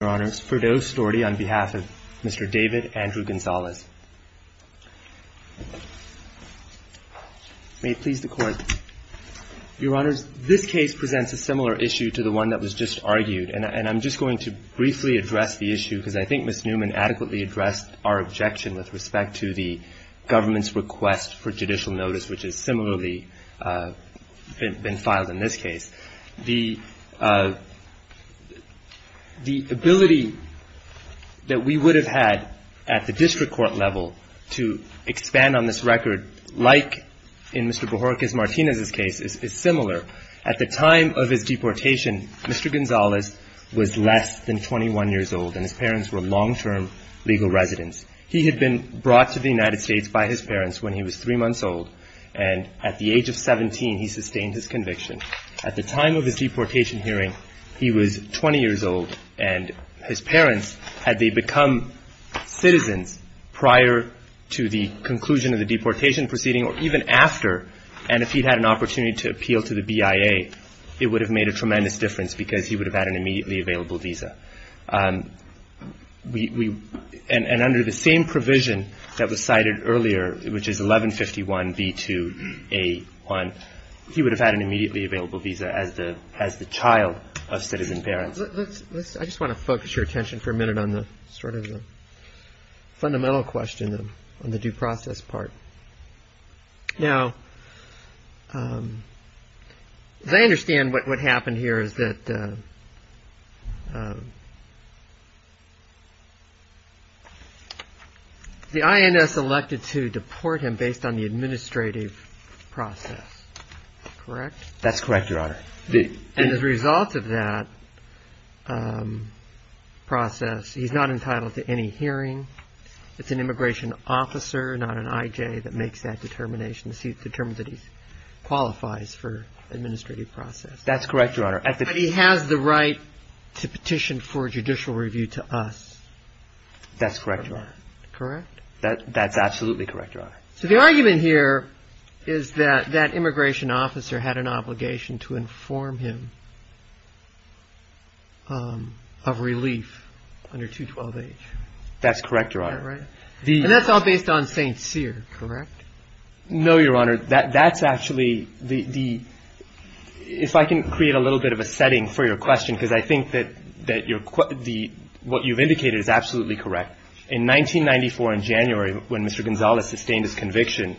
Your Honors, Ferdow Storti on behalf of Mr. David Andrew Gonzalez. May it please the Court. Your Honors, this case presents a similar issue to the one that was just argued. And I'm just going to briefly address the issue because I think Ms. Newman adequately addressed our objection with respect to the government's request for judicial notice, which has similarly been filed in this case. The ability that we would have had at the district court level to expand on this record, like in Mr. Borges Martinez's case, is similar. At the time of his deportation, Mr. Gonzalez was less than 21 years old, and his parents were long-term legal residents. He had been brought to the United States by his parents when he was three months old, and at the age of 17 he sustained his conviction. At the time of his deportation hearing, he was 20 years old, and his parents, had they become citizens prior to the conclusion of the deportation proceeding or even after, and if he'd had an opportunity to appeal to the BIA, it would have made a tremendous difference because he would have had an immediately available visa. And under the same provision that was cited earlier, which is 1151b2a1, he would have had an immediately available visa as the child of citizen parents. I just want to focus your attention for a minute on the sort of fundamental question on the due process part. Now, as I understand what happened here is that the INS elected to deport him based on the administrative process, correct? That's correct, Your Honor. And as a result of that process, he's not entitled to any hearing. It's an immigration officer, not an IJ, that makes that determination, determines that he qualifies for administrative process. That's correct, Your Honor. But he has the right to petition for judicial review to us. That's correct, Your Honor. Correct? That's absolutely correct, Your Honor. So the argument here is that that immigration officer had an obligation to inform him of relief under 212H. That's correct, Your Honor. And that's all based on St. Cyr, correct? No, Your Honor. That's actually the ‑‑ if I can create a little bit of a setting for your question, because I think that what you've indicated is absolutely correct. In 1994, in January, when Mr. Gonzales sustained his conviction,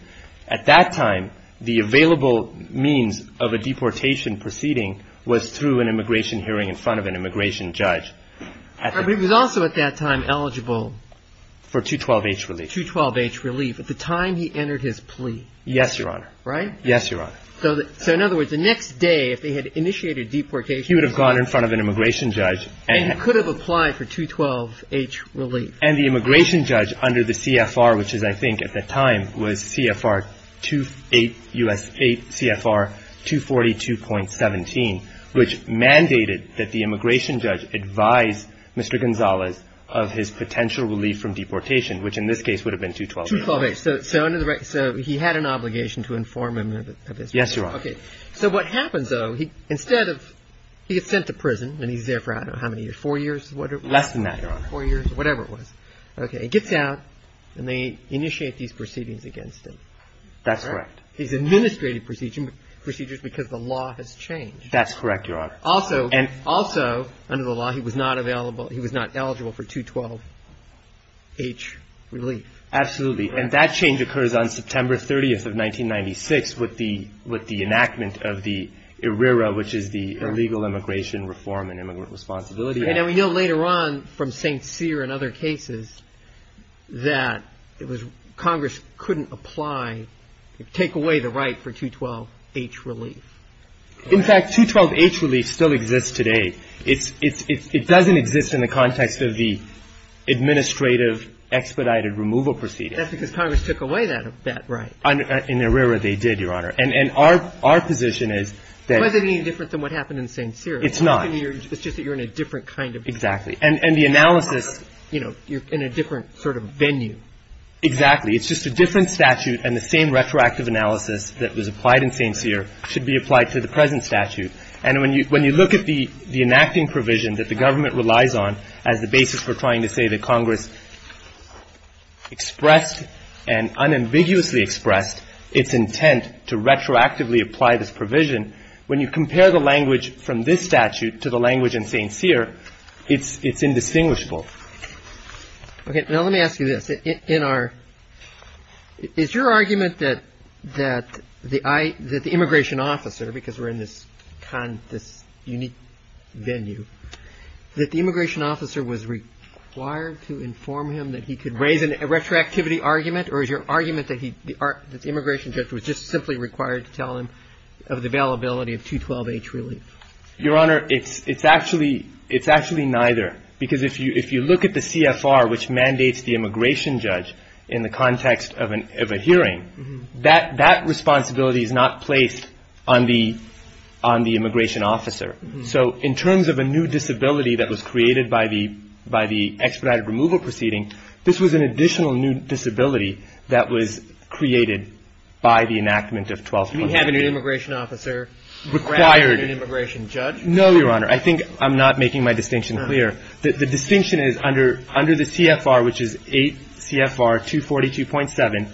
at that time the available means of a deportation proceeding was through an immigration hearing in front of an immigration judge. But he was also at that time eligible for 212H relief. 212H relief. At the time he entered his plea. Yes, Your Honor. Right? Yes, Your Honor. So in other words, the next day, if they had initiated deportation ‑‑ He would have gone in front of an immigration judge. And he could have applied for 212H relief. And the immigration judge under the CFR, which is, I think at the time, was CFR 2‑‑ of his potential relief from deportation, which in this case would have been 212H. 212H. So he had an obligation to inform him of his ‑‑ Yes, Your Honor. Okay. So what happens, though, instead of ‑‑ he gets sent to prison, and he's there for I don't know how many years, four years? Less than that, Your Honor. Four years, whatever it was. Okay. He gets out, and they initiate these proceedings against him. That's correct. He's administrated procedures because the law has changed. That's correct, Your Honor. Also, under the law, he was not eligible for 212H relief. Absolutely. And that change occurs on September 30th of 1996 with the enactment of the IRERA, which is the Illegal Immigration Reform and Immigrant Responsibility Act. And we know later on from St. Cyr and other cases that Congress couldn't apply, take away the right for 212H relief. In fact, 212H relief still exists today. It doesn't exist in the context of the administrative expedited removal proceedings. That's because Congress took away that right. In IRERA, they did, Your Honor. And our position is that ‑‑ Was it any different than what happened in St. Cyr? It's not. It's just that you're in a different kind of ‑‑ Exactly. And the analysis, you know, you're in a different sort of venue. Exactly. It's just a different statute, and the same retroactive analysis that was applied in St. Cyr should be applied to the present statute. And when you look at the enacting provision that the government relies on as the basis for trying to say that Congress expressed and unambiguously expressed its intent to retroactively apply this provision, when you compare the language from this statute to the language in St. Cyr, it's indistinguishable. Okay. Now, let me ask you this. In our ‑‑ is your argument that the immigration officer, because we're in this unique venue, that the immigration officer was required to inform him that he could raise a retroactivity argument, or is your argument that the immigration judge was just simply required to tell him of the availability of 212H relief? Your Honor, it's actually neither. Because if you look at the CFR which mandates the immigration judge in the context of a hearing, that responsibility is not placed on the immigration officer. So in terms of a new disability that was created by the expedited removal proceeding, this was an additional new disability that was created by the enactment of 212H. You mean having an immigration officer required an immigration judge? No, Your Honor. I think I'm not making my distinction clear. The distinction is under the CFR, which is 8 CFR 242.7,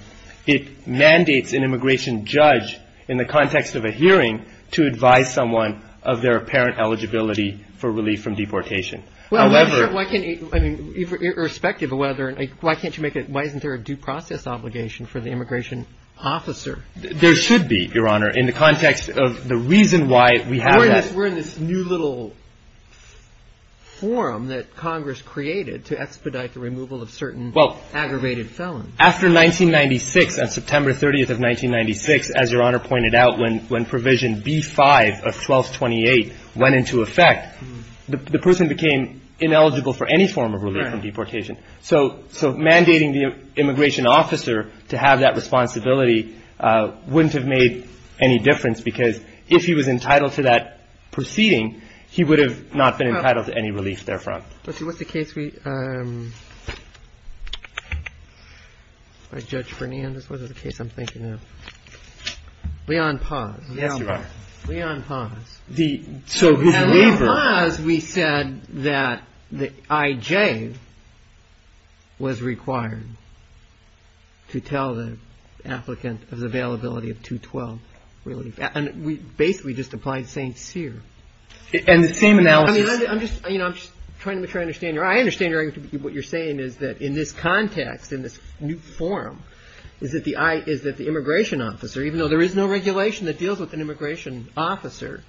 it mandates an immigration judge in the context of a hearing to advise someone of their apparent eligibility for relief from deportation. However ‑‑ Well, why can't ‑‑ I mean, irrespective of whether ‑‑ why can't you make a ‑‑ why isn't there a due process obligation for the immigration officer? We're in this new little forum that Congress created to expedite the removal of certain aggravated felons. After 1996, on September 30th of 1996, as Your Honor pointed out, when provision B5 of 1228 went into effect, the person became ineligible for any form of relief from deportation. So mandating the immigration officer to have that responsibility wouldn't have made any difference because if he was entitled to that proceeding, he would have not been entitled to any relief therefrom. But what's the case we ‑‑ Judge Fernandez, what is the case I'm thinking of? Leon Paz. Yes, Your Honor. Leon Paz. So his waiver ‑‑ In Leon Paz, we said that the I.J. was required to tell the applicant of the availability of 212 relief. And we basically just applied St. Cyr. And the same analysis ‑‑ I mean, I'm just trying to make sure I understand. I understand what you're saying is that in this context, in this new forum, is that the immigration officer, even though there is no regulation that deals with an immigration officer,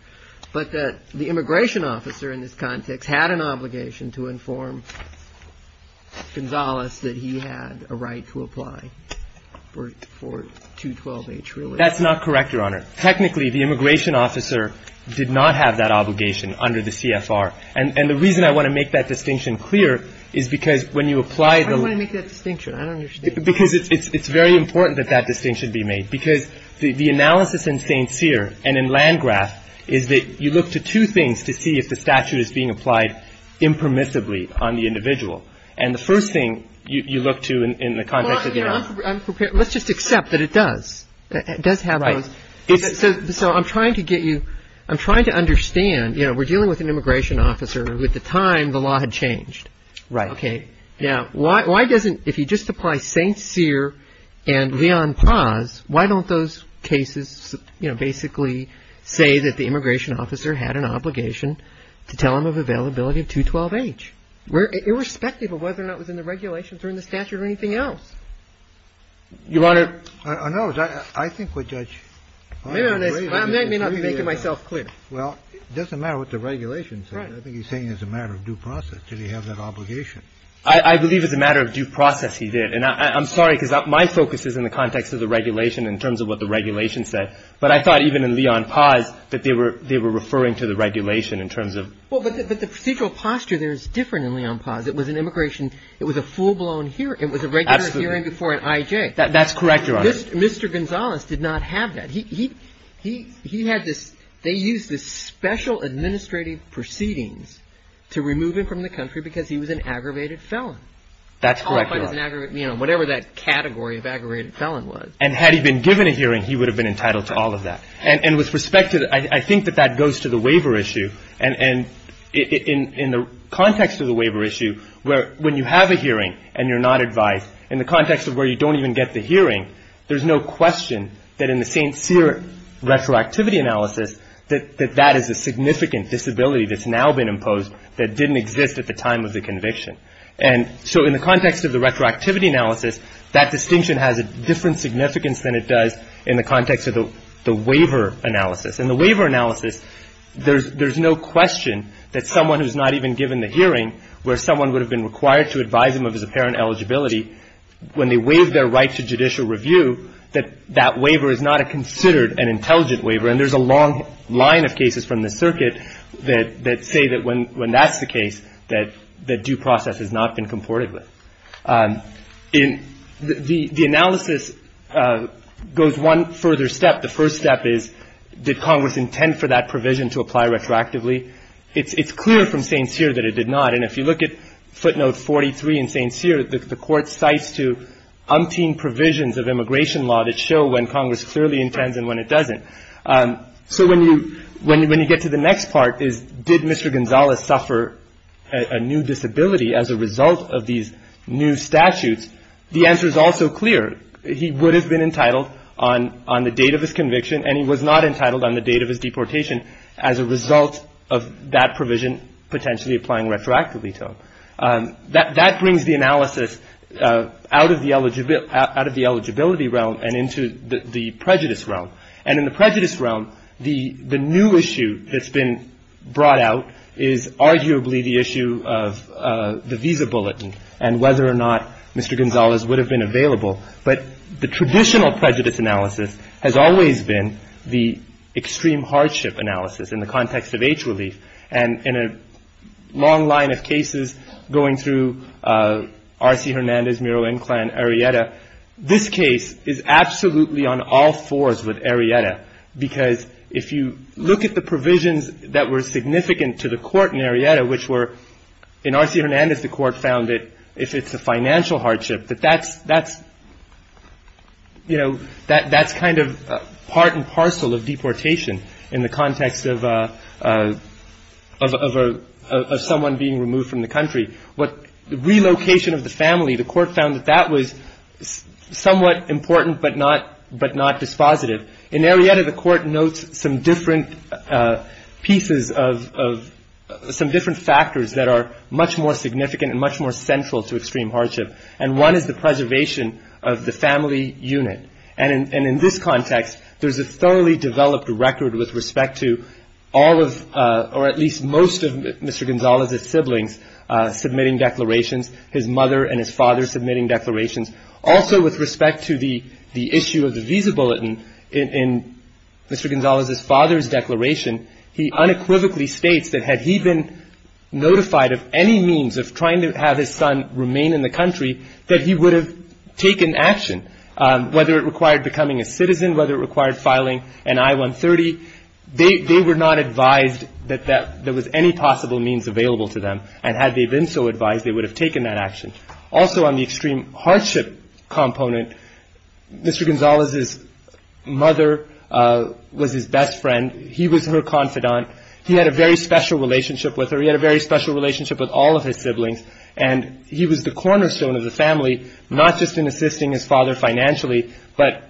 but that the immigration officer in this context has had an obligation to inform Gonzales that he had a right to apply for 212H relief? That's not correct, Your Honor. Technically, the immigration officer did not have that obligation under the CFR. And the reason I want to make that distinction clear is because when you apply the ‑‑ Why do you want to make that distinction? I don't understand. Because it's very important that that distinction be made. Because the analysis in St. Cyr and in Landgraf is that you look to two things to see if the statute is being applied impermissibly on the individual. And the first thing you look to in the context of ‑‑ Well, I'm prepared. Let's just accept that it does. It does have those ‑‑ Right. So I'm trying to get you ‑‑ I'm trying to understand, you know, we're dealing with an immigration officer who at the time the law had changed. Right. Okay. Now, why doesn't, if you just apply St. Cyr and Leon Paz, why don't those cases, you know, basically say that the immigration officer had an obligation to tell him of availability of 212H? Irrespective of whether or not it was in the regulations or in the statute or anything else. Your Honor ‑‑ I think what Judge ‑‑ I may not be making myself clear. Well, it doesn't matter what the regulations say. Right. I think he's saying it's a matter of due process. Did he have that obligation? I believe it's a matter of due process he did. And I'm sorry because my focus is in the context of the regulation in terms of what the regulation said. But I thought even in Leon Paz that they were referring to the regulation in terms of ‑‑ Well, but the procedural posture there is different in Leon Paz. It was an immigration ‑‑ it was a full‑blown hearing. Absolutely. It was a regular hearing before an IJ. That's correct, Your Honor. Mr. Gonzales did not have that. He had this ‑‑ they used this special administrative proceedings to remove him from the country because he was an aggravated felon. That's correct, Your Honor. You know, whatever that category of aggravated felon was. And had he been given a hearing, he would have been entitled to all of that. And with respect to ‑‑ I think that that goes to the waiver issue. And in the context of the waiver issue, when you have a hearing and you're not advised, in the context of where you don't even get the hearing, there's no question that in the St. Cyr retroactivity analysis that that is a significant disability that's now been imposed that didn't exist at the time of the conviction. And so in the context of the retroactivity analysis, that distinction has a different significance than it does in the context of the waiver analysis. In the waiver analysis, there's no question that someone who's not even given the hearing where someone would have been required to advise him of his apparent eligibility, when they waive their right to judicial review, that that waiver is not considered an intelligent waiver. And there's a long line of cases from the circuit that say that when that's the case, that due process has not been comported with. The analysis goes one further step. The first step is, did Congress intend for that provision to apply retroactively? It's clear from St. Cyr that it did not. And if you look at footnote 43 in St. Cyr, the court cites to umpteen provisions of immigration law that show when Congress clearly intends and when it doesn't. So when you get to the next part is, did Mr. Gonzalez suffer a new disability as a result of these new statutes? The answer is also clear. He would have been entitled on the date of his conviction, and he was not entitled on the date of his deportation as a result of that provision potentially applying retroactively to him. That brings the analysis out of the eligibility realm and into the prejudice realm. And in the prejudice realm, the new issue that's been brought out is arguably the issue of the visa bulletin and whether or not Mr. Gonzalez would have been available. But the traditional prejudice analysis has always been the extreme hardship analysis in the context of age relief. And in a long line of cases going through R.C. Hernandez, Miro, Inclan, Arrieta, this case is absolutely on all fours with Arrieta, because if you look at the provisions that were significant to the court in Arrieta, which were in R.C. Hernandez the court found that if it's a financial hardship, that that's kind of part and parcel of deportation in the context of someone being removed from the country. But the relocation of the family, the court found that that was somewhat important but not dispositive. In Arrieta, the court notes some different pieces of some different factors that are much more significant and much more central to extreme hardship. And one is the preservation of the family unit. And in this context, there's a thoroughly developed record with respect to all of or at least most of Mr. Gonzalez's siblings submitting declarations, his mother and his father submitting declarations. Also, with respect to the issue of the visa bulletin in Mr. Gonzalez's father's declaration, he unequivocally states that had he been notified of any means of trying to have his son remain in the country, that he would have taken action, whether it required becoming a citizen, whether it required filing an I-130. They were not advised that there was any possible means available to them. And had they been so advised, they would have taken that action. Also, on the extreme hardship component, Mr. Gonzalez's mother was his best friend. He was her confidant. He had a very special relationship with her. He had a very special relationship with all of his siblings. And he was the cornerstone of the family, not just in assisting his father financially, but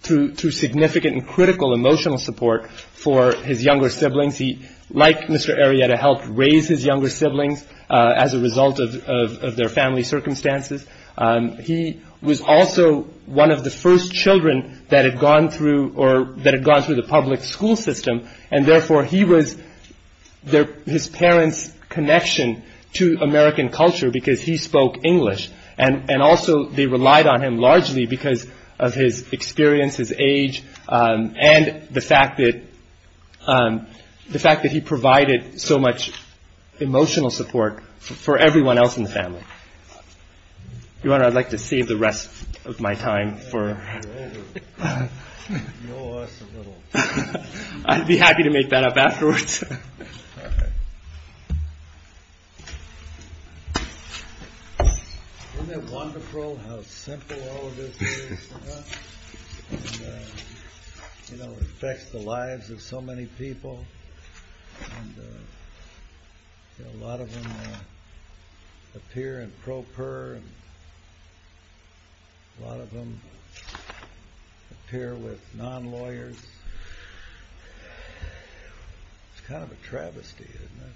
through significant and critical emotional support for his younger siblings. He, like Mr. Arrieta, helped raise his younger siblings as a result of their family circumstances. He was also one of the first children that had gone through the public school system, and therefore he was his parents' connection to American culture because he spoke English. And also they relied on him largely because of his experience, his age, and the fact that he provided so much emotional support for everyone else in the family. Your Honor, I'd like to save the rest of my time for... Isn't it wonderful how simple all of this is? You know, it affects the lives of so many people. A lot of them appear in pro per, a lot of them appear with non-lawyers. It's kind of a travesty, isn't it?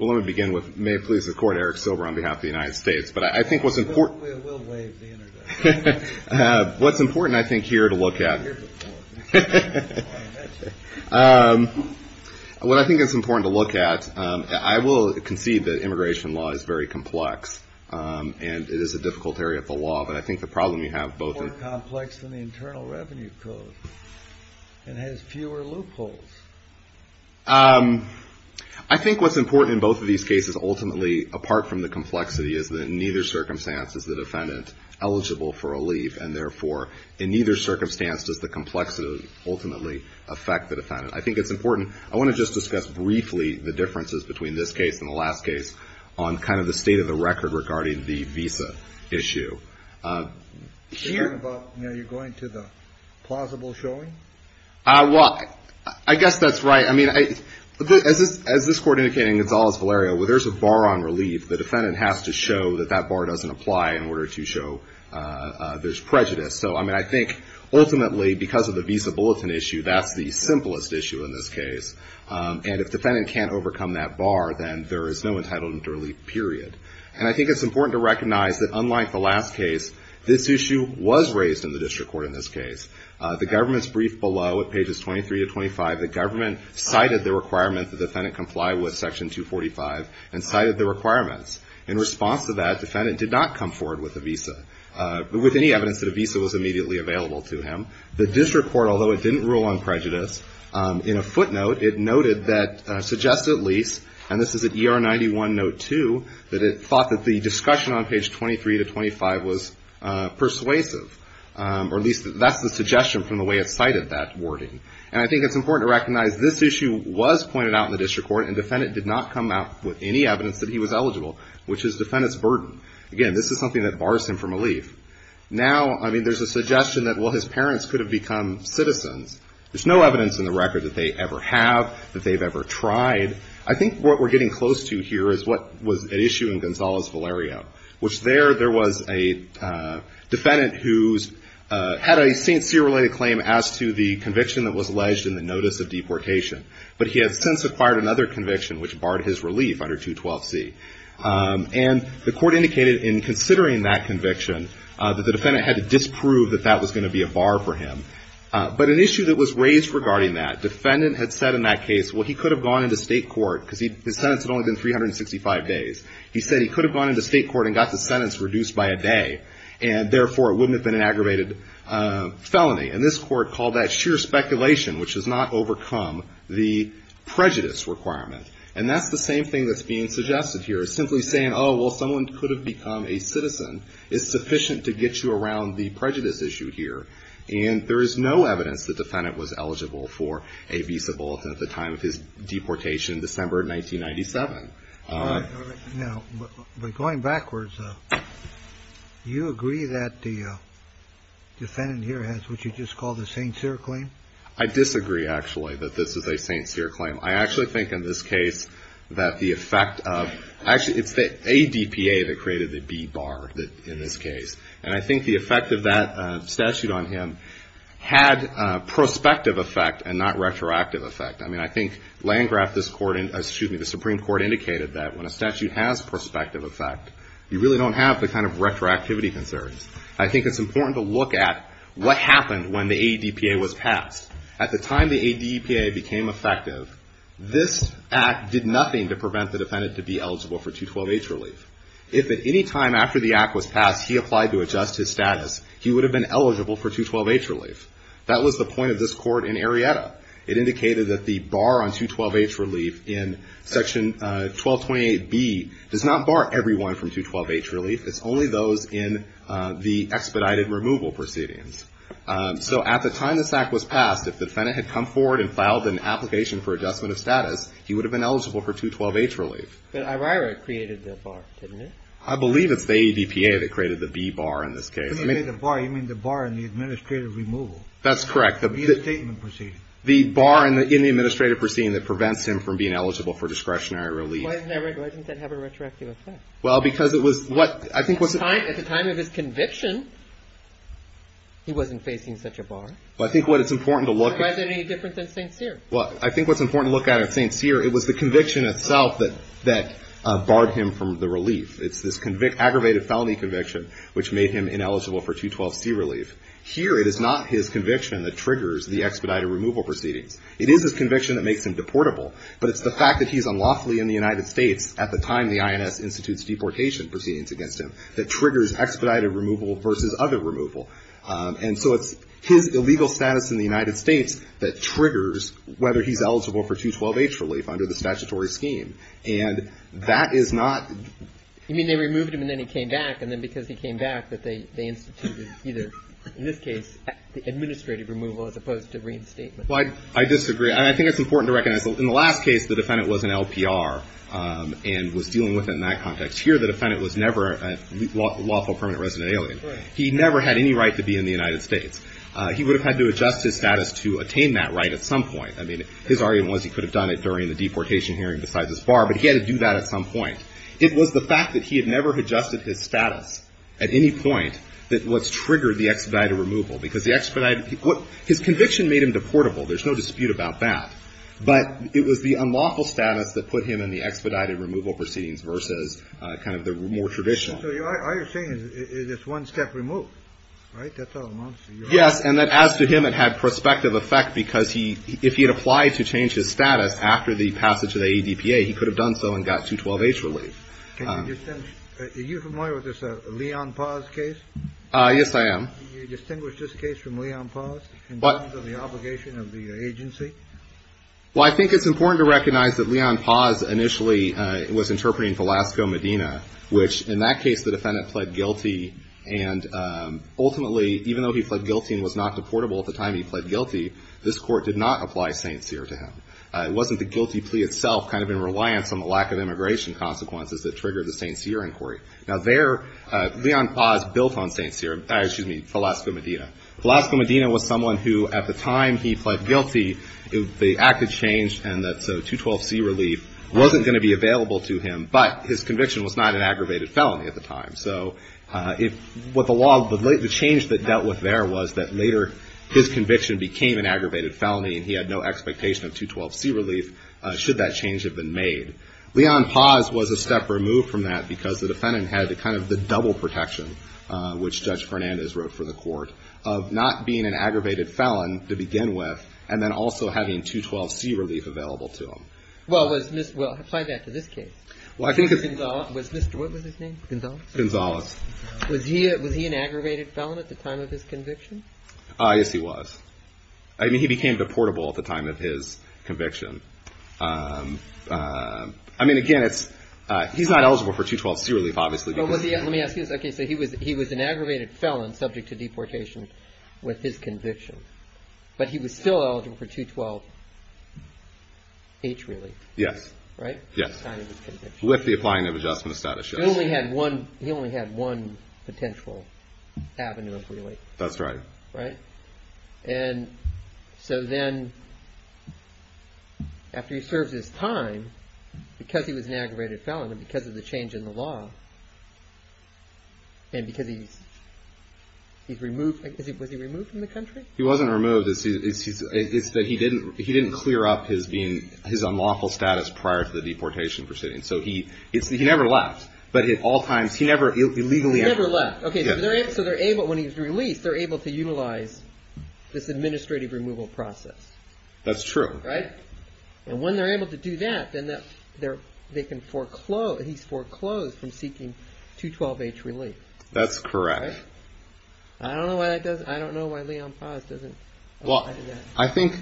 Well, let me begin with, may it please the Court, Eric Silber on behalf of the United States. But I think what's important... We'll waive the interdict. What's important, I think, here to look at... What I think is important to look at, I will concede that immigration law is very complex, and it is a difficult area of the law, but I think the problem you have both... More complex than the Internal Revenue Code, and has fewer loopholes. I think what's important in both of these cases, ultimately, apart from the complexity, is that in neither circumstance is the defendant eligible for a leave, and therefore in neither circumstance does the complexity ultimately affect the defendant. I think it's important... I want to just discuss briefly the differences between this case and the last case on kind of the state of the record regarding the visa issue. Are you going to the plausible showing? Well, I guess that's right. I mean, as this Court indicated in Gonzalez-Valerio, where there's a bar on relief, the defendant has to show that that bar doesn't apply in order to show there's prejudice. So, I mean, I think ultimately, because of the visa bulletin issue, that's the simplest issue in this case. And if the defendant can't overcome that bar, then there is no entitlement to relief, period. And I think it's important to recognize that unlike the last case, this issue was raised in the district court in this case. The government's brief below at pages 23 to 25, the government cited the requirement the defendant comply with Section 245 and cited the requirements. In response to that, the defendant did not come forward with a visa, with any evidence that a visa was immediately available to him. The district court, although it didn't rule on prejudice, in a footnote it noted that suggests at least, and this is at ER 91, note 2, that it thought that the discussion on page 23 to 25 was persuasive, or at least that's the suggestion from the way it cited that wording. And I think it's important to recognize this issue was pointed out in the district court and the defendant did not come out with any evidence that he was eligible, which is defendant's burden. Again, this is something that bars him from relief. Now, I mean, there's a suggestion that, well, his parents could have become citizens. There's no evidence in the record that they ever have, that they've ever tried. I think what we're getting close to here is what was at issue in Gonzales-Valerio, which there there was a defendant who had a St. Cyr-related claim as to the conviction that was alleged in the notice of deportation, but he has since acquired another conviction which barred his relief under 212C. And the court indicated in considering that conviction that the defendant had to disprove that that was going to be a bar for him. But an issue that was raised regarding that, defendant had said in that case, well, he could have gone into state court because his sentence had only been 365 days. He said he could have gone into state court and got the sentence reduced by a day, and therefore it wouldn't have been an aggravated felony. And this court called that sheer speculation, which does not overcome the prejudice requirement. And that's the same thing that's being suggested here, simply saying, oh, well, someone could have become a citizen is sufficient to get you around the prejudice issue here. And there is no evidence the defendant was eligible for a visa bulletin at the time of his deportation, December 1997. All right. Now, but going backwards, do you agree that the defendant here has what you just call the St. Cyr claim? I disagree, actually, that this is a St. Cyr claim. I actually think in this case that the effect of ‑‑ actually, it's the ADPA that created the B bar in this case. And I think the effect of that statute on him had prospective effect and not retroactive effect. I mean, I think Landgraf, this court, excuse me, the Supreme Court indicated that when a statute has prospective effect, you really don't have the kind of retroactivity concerns. I think it's important to look at what happened when the ADPA was passed. At the time the ADPA became effective, this act did nothing to prevent the defendant to be eligible for 212H relief. If at any time after the act was passed he applied to adjust his status, he would have been eligible for 212H relief. That was the point of this court in Arrieta. It indicated that the bar on 212H relief in section 1228B does not bar everyone from 212H relief. It's only those in the expedited removal proceedings. So at the time this act was passed, if the defendant had come forward and filed an application for adjustment of status, he would have been eligible for 212H relief. But Arrieta created the bar, didn't it? I believe it's the ADPA that created the B bar in this case. When you say the bar, you mean the bar in the administrative removal. That's correct. The bar in the administrative proceeding that prevents him from being eligible for discretionary relief. Why doesn't that have a retroactive effect? Well, because it was what I think was... At the time of his conviction, he wasn't facing such a bar. I think what it's important to look at... Was it any different than St. Cyr? Well, I think what's important to look at in St. Cyr, it was the conviction itself that barred him from the relief. It's this aggravated felony conviction which made him ineligible for 212C relief. Here, it is not his conviction that triggers the expedited removal proceedings. It is his conviction that makes him deportable, but it's the fact that he's unlawfully in the United States at the time the INS institutes deportation proceedings against him that triggers expedited removal versus other removal. And so it's his illegal status in the United States that triggers whether he's eligible for 212H relief under the statutory scheme. And that is not... And then because he came back, that they instituted either, in this case, the administrative removal as opposed to reinstatement. Well, I disagree. And I think it's important to recognize in the last case, the defendant was an LPR and was dealing with it in that context. Here, the defendant was never a lawful permanent resident alien. He never had any right to be in the United States. He would have had to adjust his status to attain that right at some point. I mean, his argument was he could have done it during the deportation hearing besides his bar, but he had to do that at some point. It was the fact that he had never adjusted his status at any point that was triggered the expedited removal. Because the expedited... His conviction made him deportable. There's no dispute about that. But it was the unlawful status that put him in the expedited removal proceedings versus kind of the more traditional. So all you're saying is it's one step removed, right? That's all I'm asking. Yes. And as to him, it had prospective effect because if he had applied to change his status after the passage of the ADPA, he could have done so and got 212H relief. Can you distinguish... Are you familiar with this Leon Paz case? Yes, I am. Can you distinguish this case from Leon Paz in terms of the obligation of the agency? Well, I think it's important to recognize that Leon Paz initially was interpreting Velasco Medina, which in that case the defendant pled guilty. And ultimately, even though he pled guilty and was not deportable at the time he pled guilty, this court did not apply St. Cyr to him. It wasn't the guilty plea itself kind of in reliance on the lack of immigration consequences that triggered the St. Cyr inquiry. Now, there Leon Paz built on St. Cyr, excuse me, Velasco Medina. Velasco Medina was someone who at the time he pled guilty, the act had changed, and so 212C relief wasn't going to be available to him. But his conviction was not an aggravated felony at the time. So what the law, the change that dealt with there was that later his conviction became an aggravated felony and he had no expectation of 212C relief should that change have been made. Leon Paz was a step removed from that because the defendant had kind of the double protection, which Judge Fernandez wrote for the court, of not being an aggravated felon to begin with and then also having 212C relief available to him. Well, apply that to this case. What was his name? Gonzalez. Gonzalez. Was he an aggravated felon at the time of his conviction? Yes, he was. I mean, he became deportable at the time of his conviction. I mean, again, he's not eligible for 212C relief, obviously. Let me ask you this. Okay, so he was an aggravated felon subject to deportation with his conviction, but he was still eligible for 212H relief, right? Yes. At the time of his conviction. With the applying of adjustment status, yes. He only had one potential avenue of relief. That's right. Right? And so then after he serves his time, because he was an aggravated felon and because of the change in the law and because he's removed. Was he removed from the country? He wasn't removed. It's that he didn't clear up his unlawful status prior to the deportation proceedings. So he never left. But at all times, he never illegally entered. He never left. Okay, so when he was released, they're able to utilize this administrative removal process. That's true. Right? And when they're able to do that, then they can foreclose. He's foreclosed from seeking 212H relief. That's correct. Right? I don't know why that doesn't. I don't know why Leon Paz doesn't. Well, I think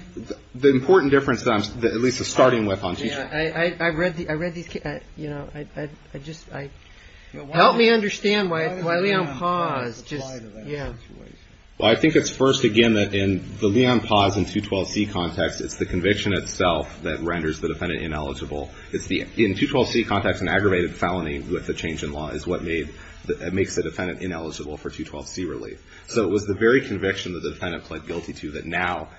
the important difference that I'm at least starting with on teaching. Help me understand why Leon Paz just, yeah. Well, I think it's first, again, that in the Leon Paz and 212C context, it's the conviction itself that renders the defendant ineligible. In the 212C context, an aggravated felony with the change in law is what makes the defendant ineligible for 212C relief. So it was the very conviction that the defendant pled guilty to that now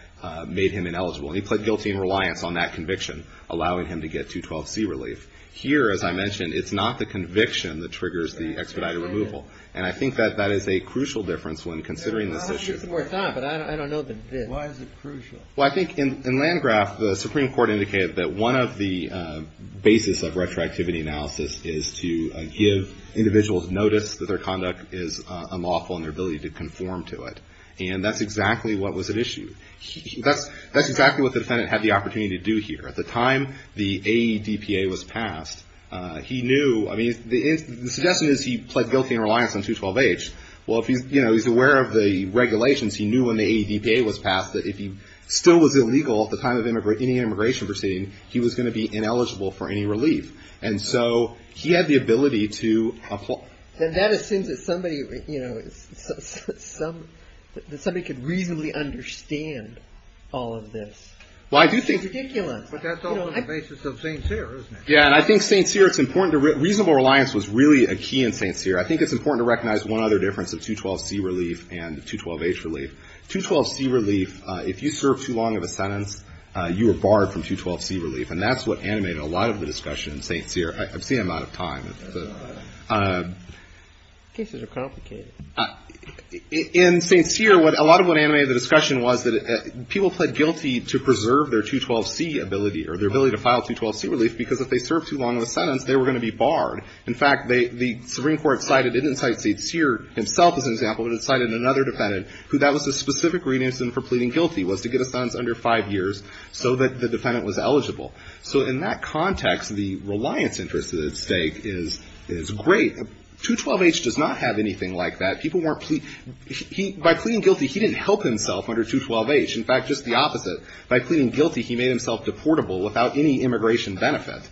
made him ineligible. And he pled guilty in reliance on that conviction, allowing him to get 212C relief. Here, as I mentioned, it's not the conviction that triggers the expedited removal. And I think that that is a crucial difference when considering this issue. How is this worked out? But I don't know the bits. Why is it crucial? Well, I think in Landgraf, the Supreme Court indicated that one of the basis of retroactivity analysis is to give individuals notice that their conduct is unlawful and their ability to conform to it. And that's exactly what was at issue. That's exactly what the defendant had the opportunity to do here. At the time the AEDPA was passed, he knew. I mean, the suggestion is he pled guilty in reliance on 212H. Well, if he's, you know, he's aware of the regulations, he knew when the AEDPA was passed that if he still was illegal at the time of any immigration proceeding, he was going to be ineligible for any relief. And so he had the ability to apply. And that assumes that somebody, you know, that somebody could reasonably understand all of this. Well, I do think. It's ridiculous. But that's all on the basis of St. Cyr, isn't it? Yeah, and I think St. Cyr, it's important to, reasonable reliance was really a key in St. Cyr. I think it's important to recognize one other difference of 212C relief and 212H relief. 212C relief, if you serve too long of a sentence, you are barred from 212C relief. And that's what animated a lot of the discussion in St. Cyr. I've seen him out of time. Cases are complicated. In St. Cyr, a lot of what animated the discussion was that people pled guilty to preserve their 212C ability or their ability to file 212C relief because if they served too long of a sentence, they were going to be barred. In fact, the Supreme Court cited, it didn't cite St. Cyr himself as an example, but it cited another defendant, who that was the specific reason for pleading guilty, was to get a sentence under 5 years so that the defendant was eligible. So in that context, the reliance interest at stake is great. 212H does not have anything like that. By pleading guilty, he didn't help himself under 212H. In fact, just the opposite. By pleading guilty, he made himself deportable without any immigration benefit,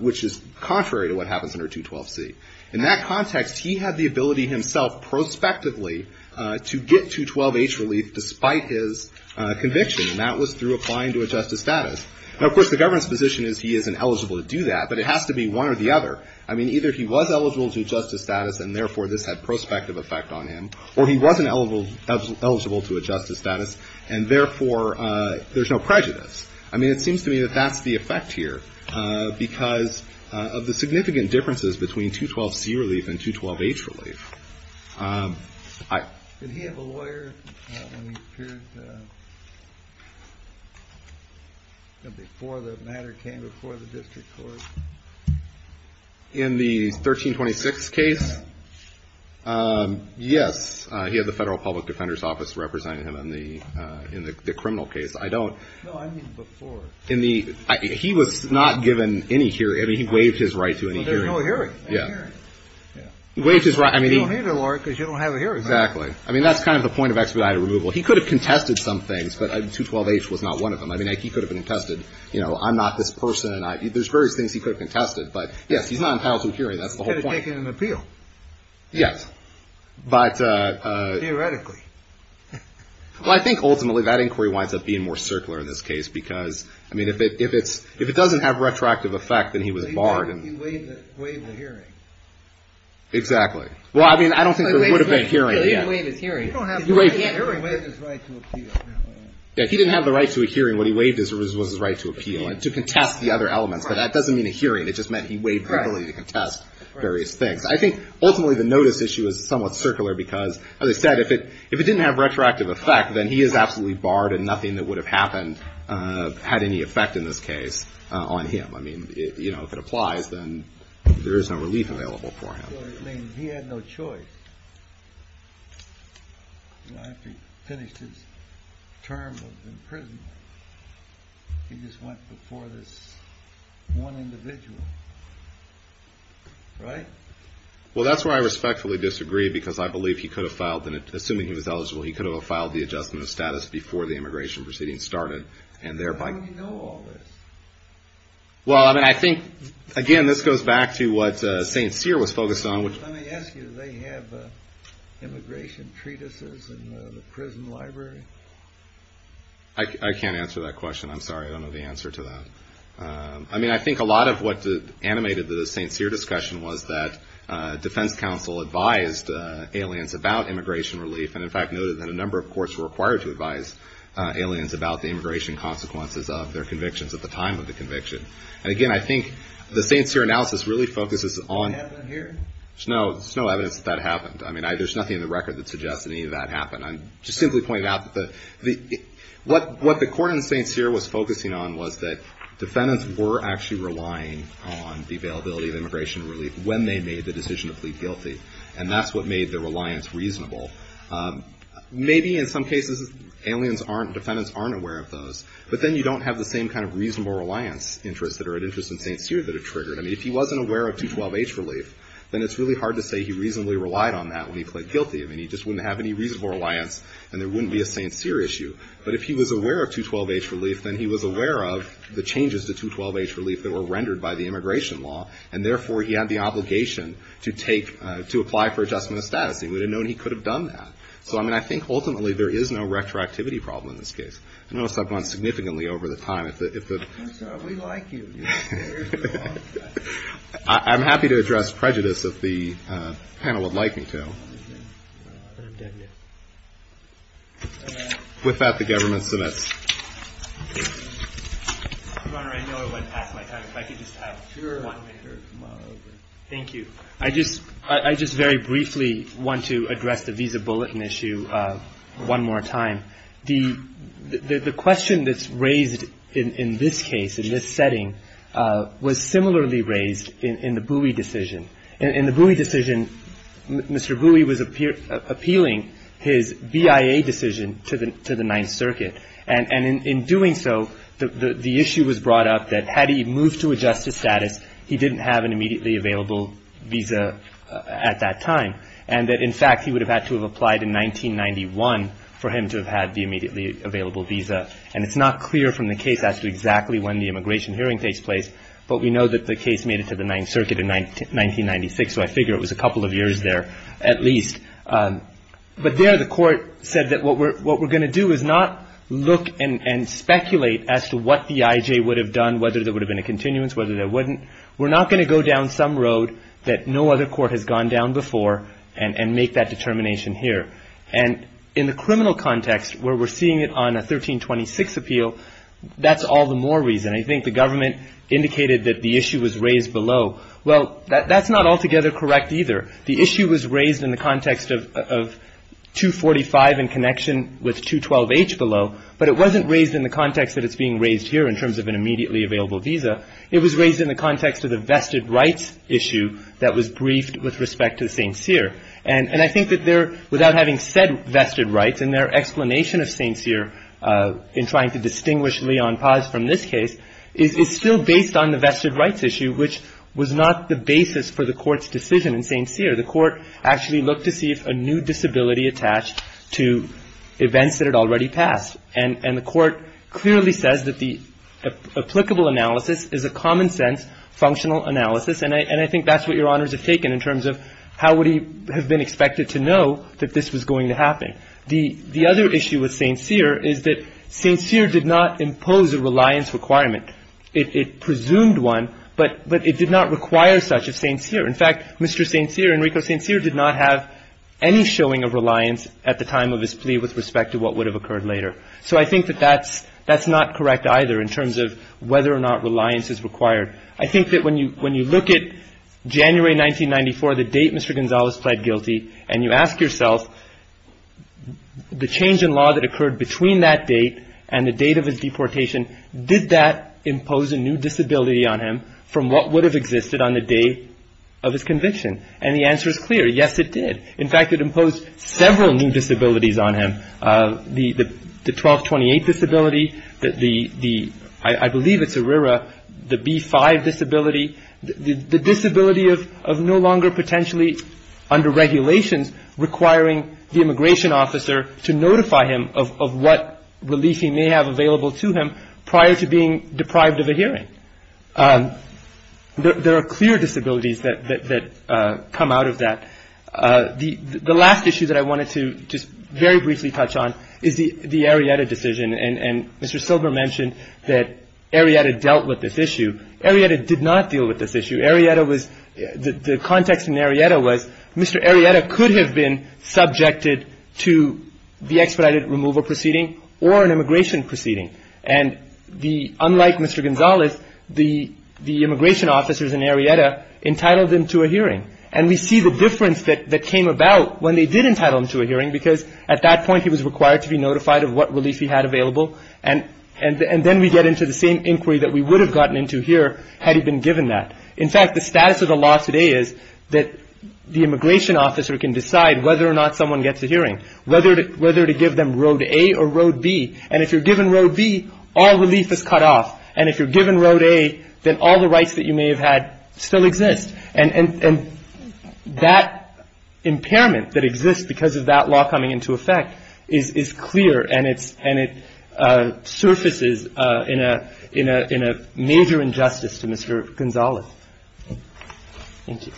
which is contrary to what happens under 212C. In that context, he had the ability himself prospectively to get 212H relief despite his conviction, and that was through applying to a justice status. Now, of course, the government's position is he isn't eligible to do that, but it has to be one or the other. I mean, either he was eligible to a justice status, and therefore this had prospective effect on him, or he wasn't eligible to a justice status, and therefore there's no prejudice. I mean, it seems to me that that's the effect here because of the significant differences between 212C relief and 212H relief. Did he have a lawyer when he appeared before the matter came before the district court? In the 1326 case? Yes. He had the Federal Public Defender's Office representing him in the criminal case. I don't. No, I mean before. He was not given any hearing. I mean, he waived his right to any hearing. There was no hearing. You don't need a lawyer because you don't have a hearing. Exactly. I mean, that's kind of the point of expedited removal. He could have contested some things, but 212H was not one of them. I mean, he could have been contested, you know, I'm not this person. There's various things he could have contested, but, yes, he's not entitled to a hearing. He could have taken an appeal. Yes. Theoretically. Well, I think ultimately that inquiry winds up being more circular in this case because, I mean, if it doesn't have retroactive effect, then he was barred. He waived the hearing. Exactly. Well, I mean, I don't think there would have been a hearing. He waived his hearing. He waived his right to appeal. Yes, he didn't have the right to a hearing. What he waived was his right to appeal and to contest the other elements, but that doesn't mean a hearing. It just meant he waived the ability to contest various things. I think ultimately the notice issue is somewhat circular because, as I said, if it didn't have retroactive effect, then he is absolutely barred and nothing that would have happened had any effect in this case on him. I mean, you know, if it applies, then there is no relief available for him. I mean, he had no choice. You know, after he finished his term of imprisonment, he just went before this one individual, right? Well, that's where I respectfully disagree because I believe he could have filed, assuming he was eligible, he could have filed the adjustment of status before the immigration proceedings started and thereby... How do you know all this? Well, I mean, I think, again, this goes back to what St. Cyr was focused on... Let me ask you, do they have immigration treatises in the prison library? I can't answer that question. I'm sorry, I don't know the answer to that. I mean, I think a lot of what animated the St. Cyr discussion was that defense counsel advised aliens about immigration relief and, in fact, noted that a number of courts were required to advise aliens about the immigration consequences of their convictions at the time of the conviction. And, again, I think the St. Cyr analysis really focuses on... Do you have that here? There's no evidence that that happened. I mean, there's nothing in the record that suggests any of that happened. I'm just simply pointing out that what the court in St. Cyr was focusing on was that defendants were actually relying on the availability of immigration relief when they made the decision to plead guilty, and that's what made their reliance reasonable. Maybe, in some cases, aliens aren't... defendants aren't aware of those, but then you don't have the same kind of reasonable reliance interest or an interest in St. Cyr that it triggered. I mean, if he wasn't aware of 212H relief, then it's really hard to say he reasonably relied on that when he pled guilty. I mean, he just wouldn't have any reasonable reliance, and there wouldn't be a St. Cyr issue. But if he was aware of 212H relief, then he was aware of the changes to 212H relief that were rendered by the immigration law, and, therefore, he had the obligation to take... to apply for adjustment of status. He would have known he could have done that. So, I mean, I think, ultimately, there is no retroactivity problem in this case. I notice I've gone significantly over the time. If the... We like you. I'm happy to address prejudice if the panel would like me to. With that, the government submits. Your Honor, I know I went past my time. If I could just have one... Sure. Thank you. I just very briefly want to address the visa bulletin issue one more time. The question that's raised in this case, in this setting, was similarly raised in the Bowie decision. In the Bowie decision, Mr. Bowie was appealing his BIA decision to the Ninth Circuit. And in doing so, the issue was brought up that had he moved to a justice status, he didn't have an immediately available visa at that time. And that, in fact, he would have had to have applied in 1991 for him to have had the immediately available visa. And it's not clear from the case as to exactly when the immigration hearing takes place, but we know that the case made it to the Ninth Circuit in 1996, so I figure it was a couple of years there at least. But there, the Court said that what we're going to do is not look and speculate as to what the I.J. would have done, whether there would have been a continuance, whether there wouldn't. We're not going to go down some road that no other court has gone down before and make that determination here. And in the criminal context where we're seeing it on a 1326 appeal, that's all the more reason. I think the government indicated that the issue was raised below. Well, that's not altogether correct either. The issue was raised in the context of 245 in connection with 212H below, but it wasn't raised in the context that it's being raised here in terms of an immediately available visa. It was raised in the context of the vested rights issue that was briefed with respect to St. Cyr. And I think that there, without having said vested rights, and their explanation of St. Cyr in trying to distinguish Leon Paz from this case is still based on the vested rights issue, which was not the basis for the Court's decision in St. Cyr. The Court actually looked to see if a new disability attached to events that had already passed. And the Court clearly says that the applicable analysis is a common-sense functional analysis. And I think that's what Your Honors have taken in terms of how would he have been expected to know that this was going to happen. The other issue with St. Cyr is that St. Cyr did not impose a reliance requirement. It presumed one, but it did not require such of St. Cyr. In fact, Mr. St. Cyr, Enrico St. Cyr, did not have any showing of reliance at the time of his plea with respect to what would have occurred later. So I think that that's not correct either in terms of whether or not reliance is required. I think that when you look at January 1994, the date Mr. Gonzales pled guilty, and you ask yourself the change in law that occurred between that date and the date of his deportation, did that impose a new disability on him from what would have existed on the day of his conviction? And the answer is clear. Yes, it did. In fact, it imposed several new disabilities on him. The 1228 disability, the, I believe it's ERIRA, the B-5 disability, the disability of no longer potentially under regulations requiring the immigration officer to notify him of what relief he may have available to him prior to being deprived of a hearing. There are clear disabilities that come out of that. The last issue that I wanted to just very briefly touch on is the Arrieta decision. And Mr. Silber mentioned that Arrieta dealt with this issue. Arrieta did not deal with this issue. Arrieta was, the context in Arrieta was Mr. Arrieta could have been subjected to the expedited removal proceeding or an immigration proceeding. And the, unlike Mr. Gonzales, the immigration officers in Arrieta entitled him to a hearing. And we see the difference that came about when they did entitle him to a hearing, because at that point he was required to be notified of what relief he had available. And then we get into the same inquiry that we would have gotten into here had he been given that. In fact, the status of the law today is that the immigration officer can decide whether or not someone gets a hearing, whether to give them Road A or Road B. And if you're given Road B, all relief is cut off. And if you're given Road A, then all the rights that you may have had still exist. And that impairment that exists because of that law coming into effect is clear, and it surfaces in a major injustice to Mr. Gonzales. Thank you.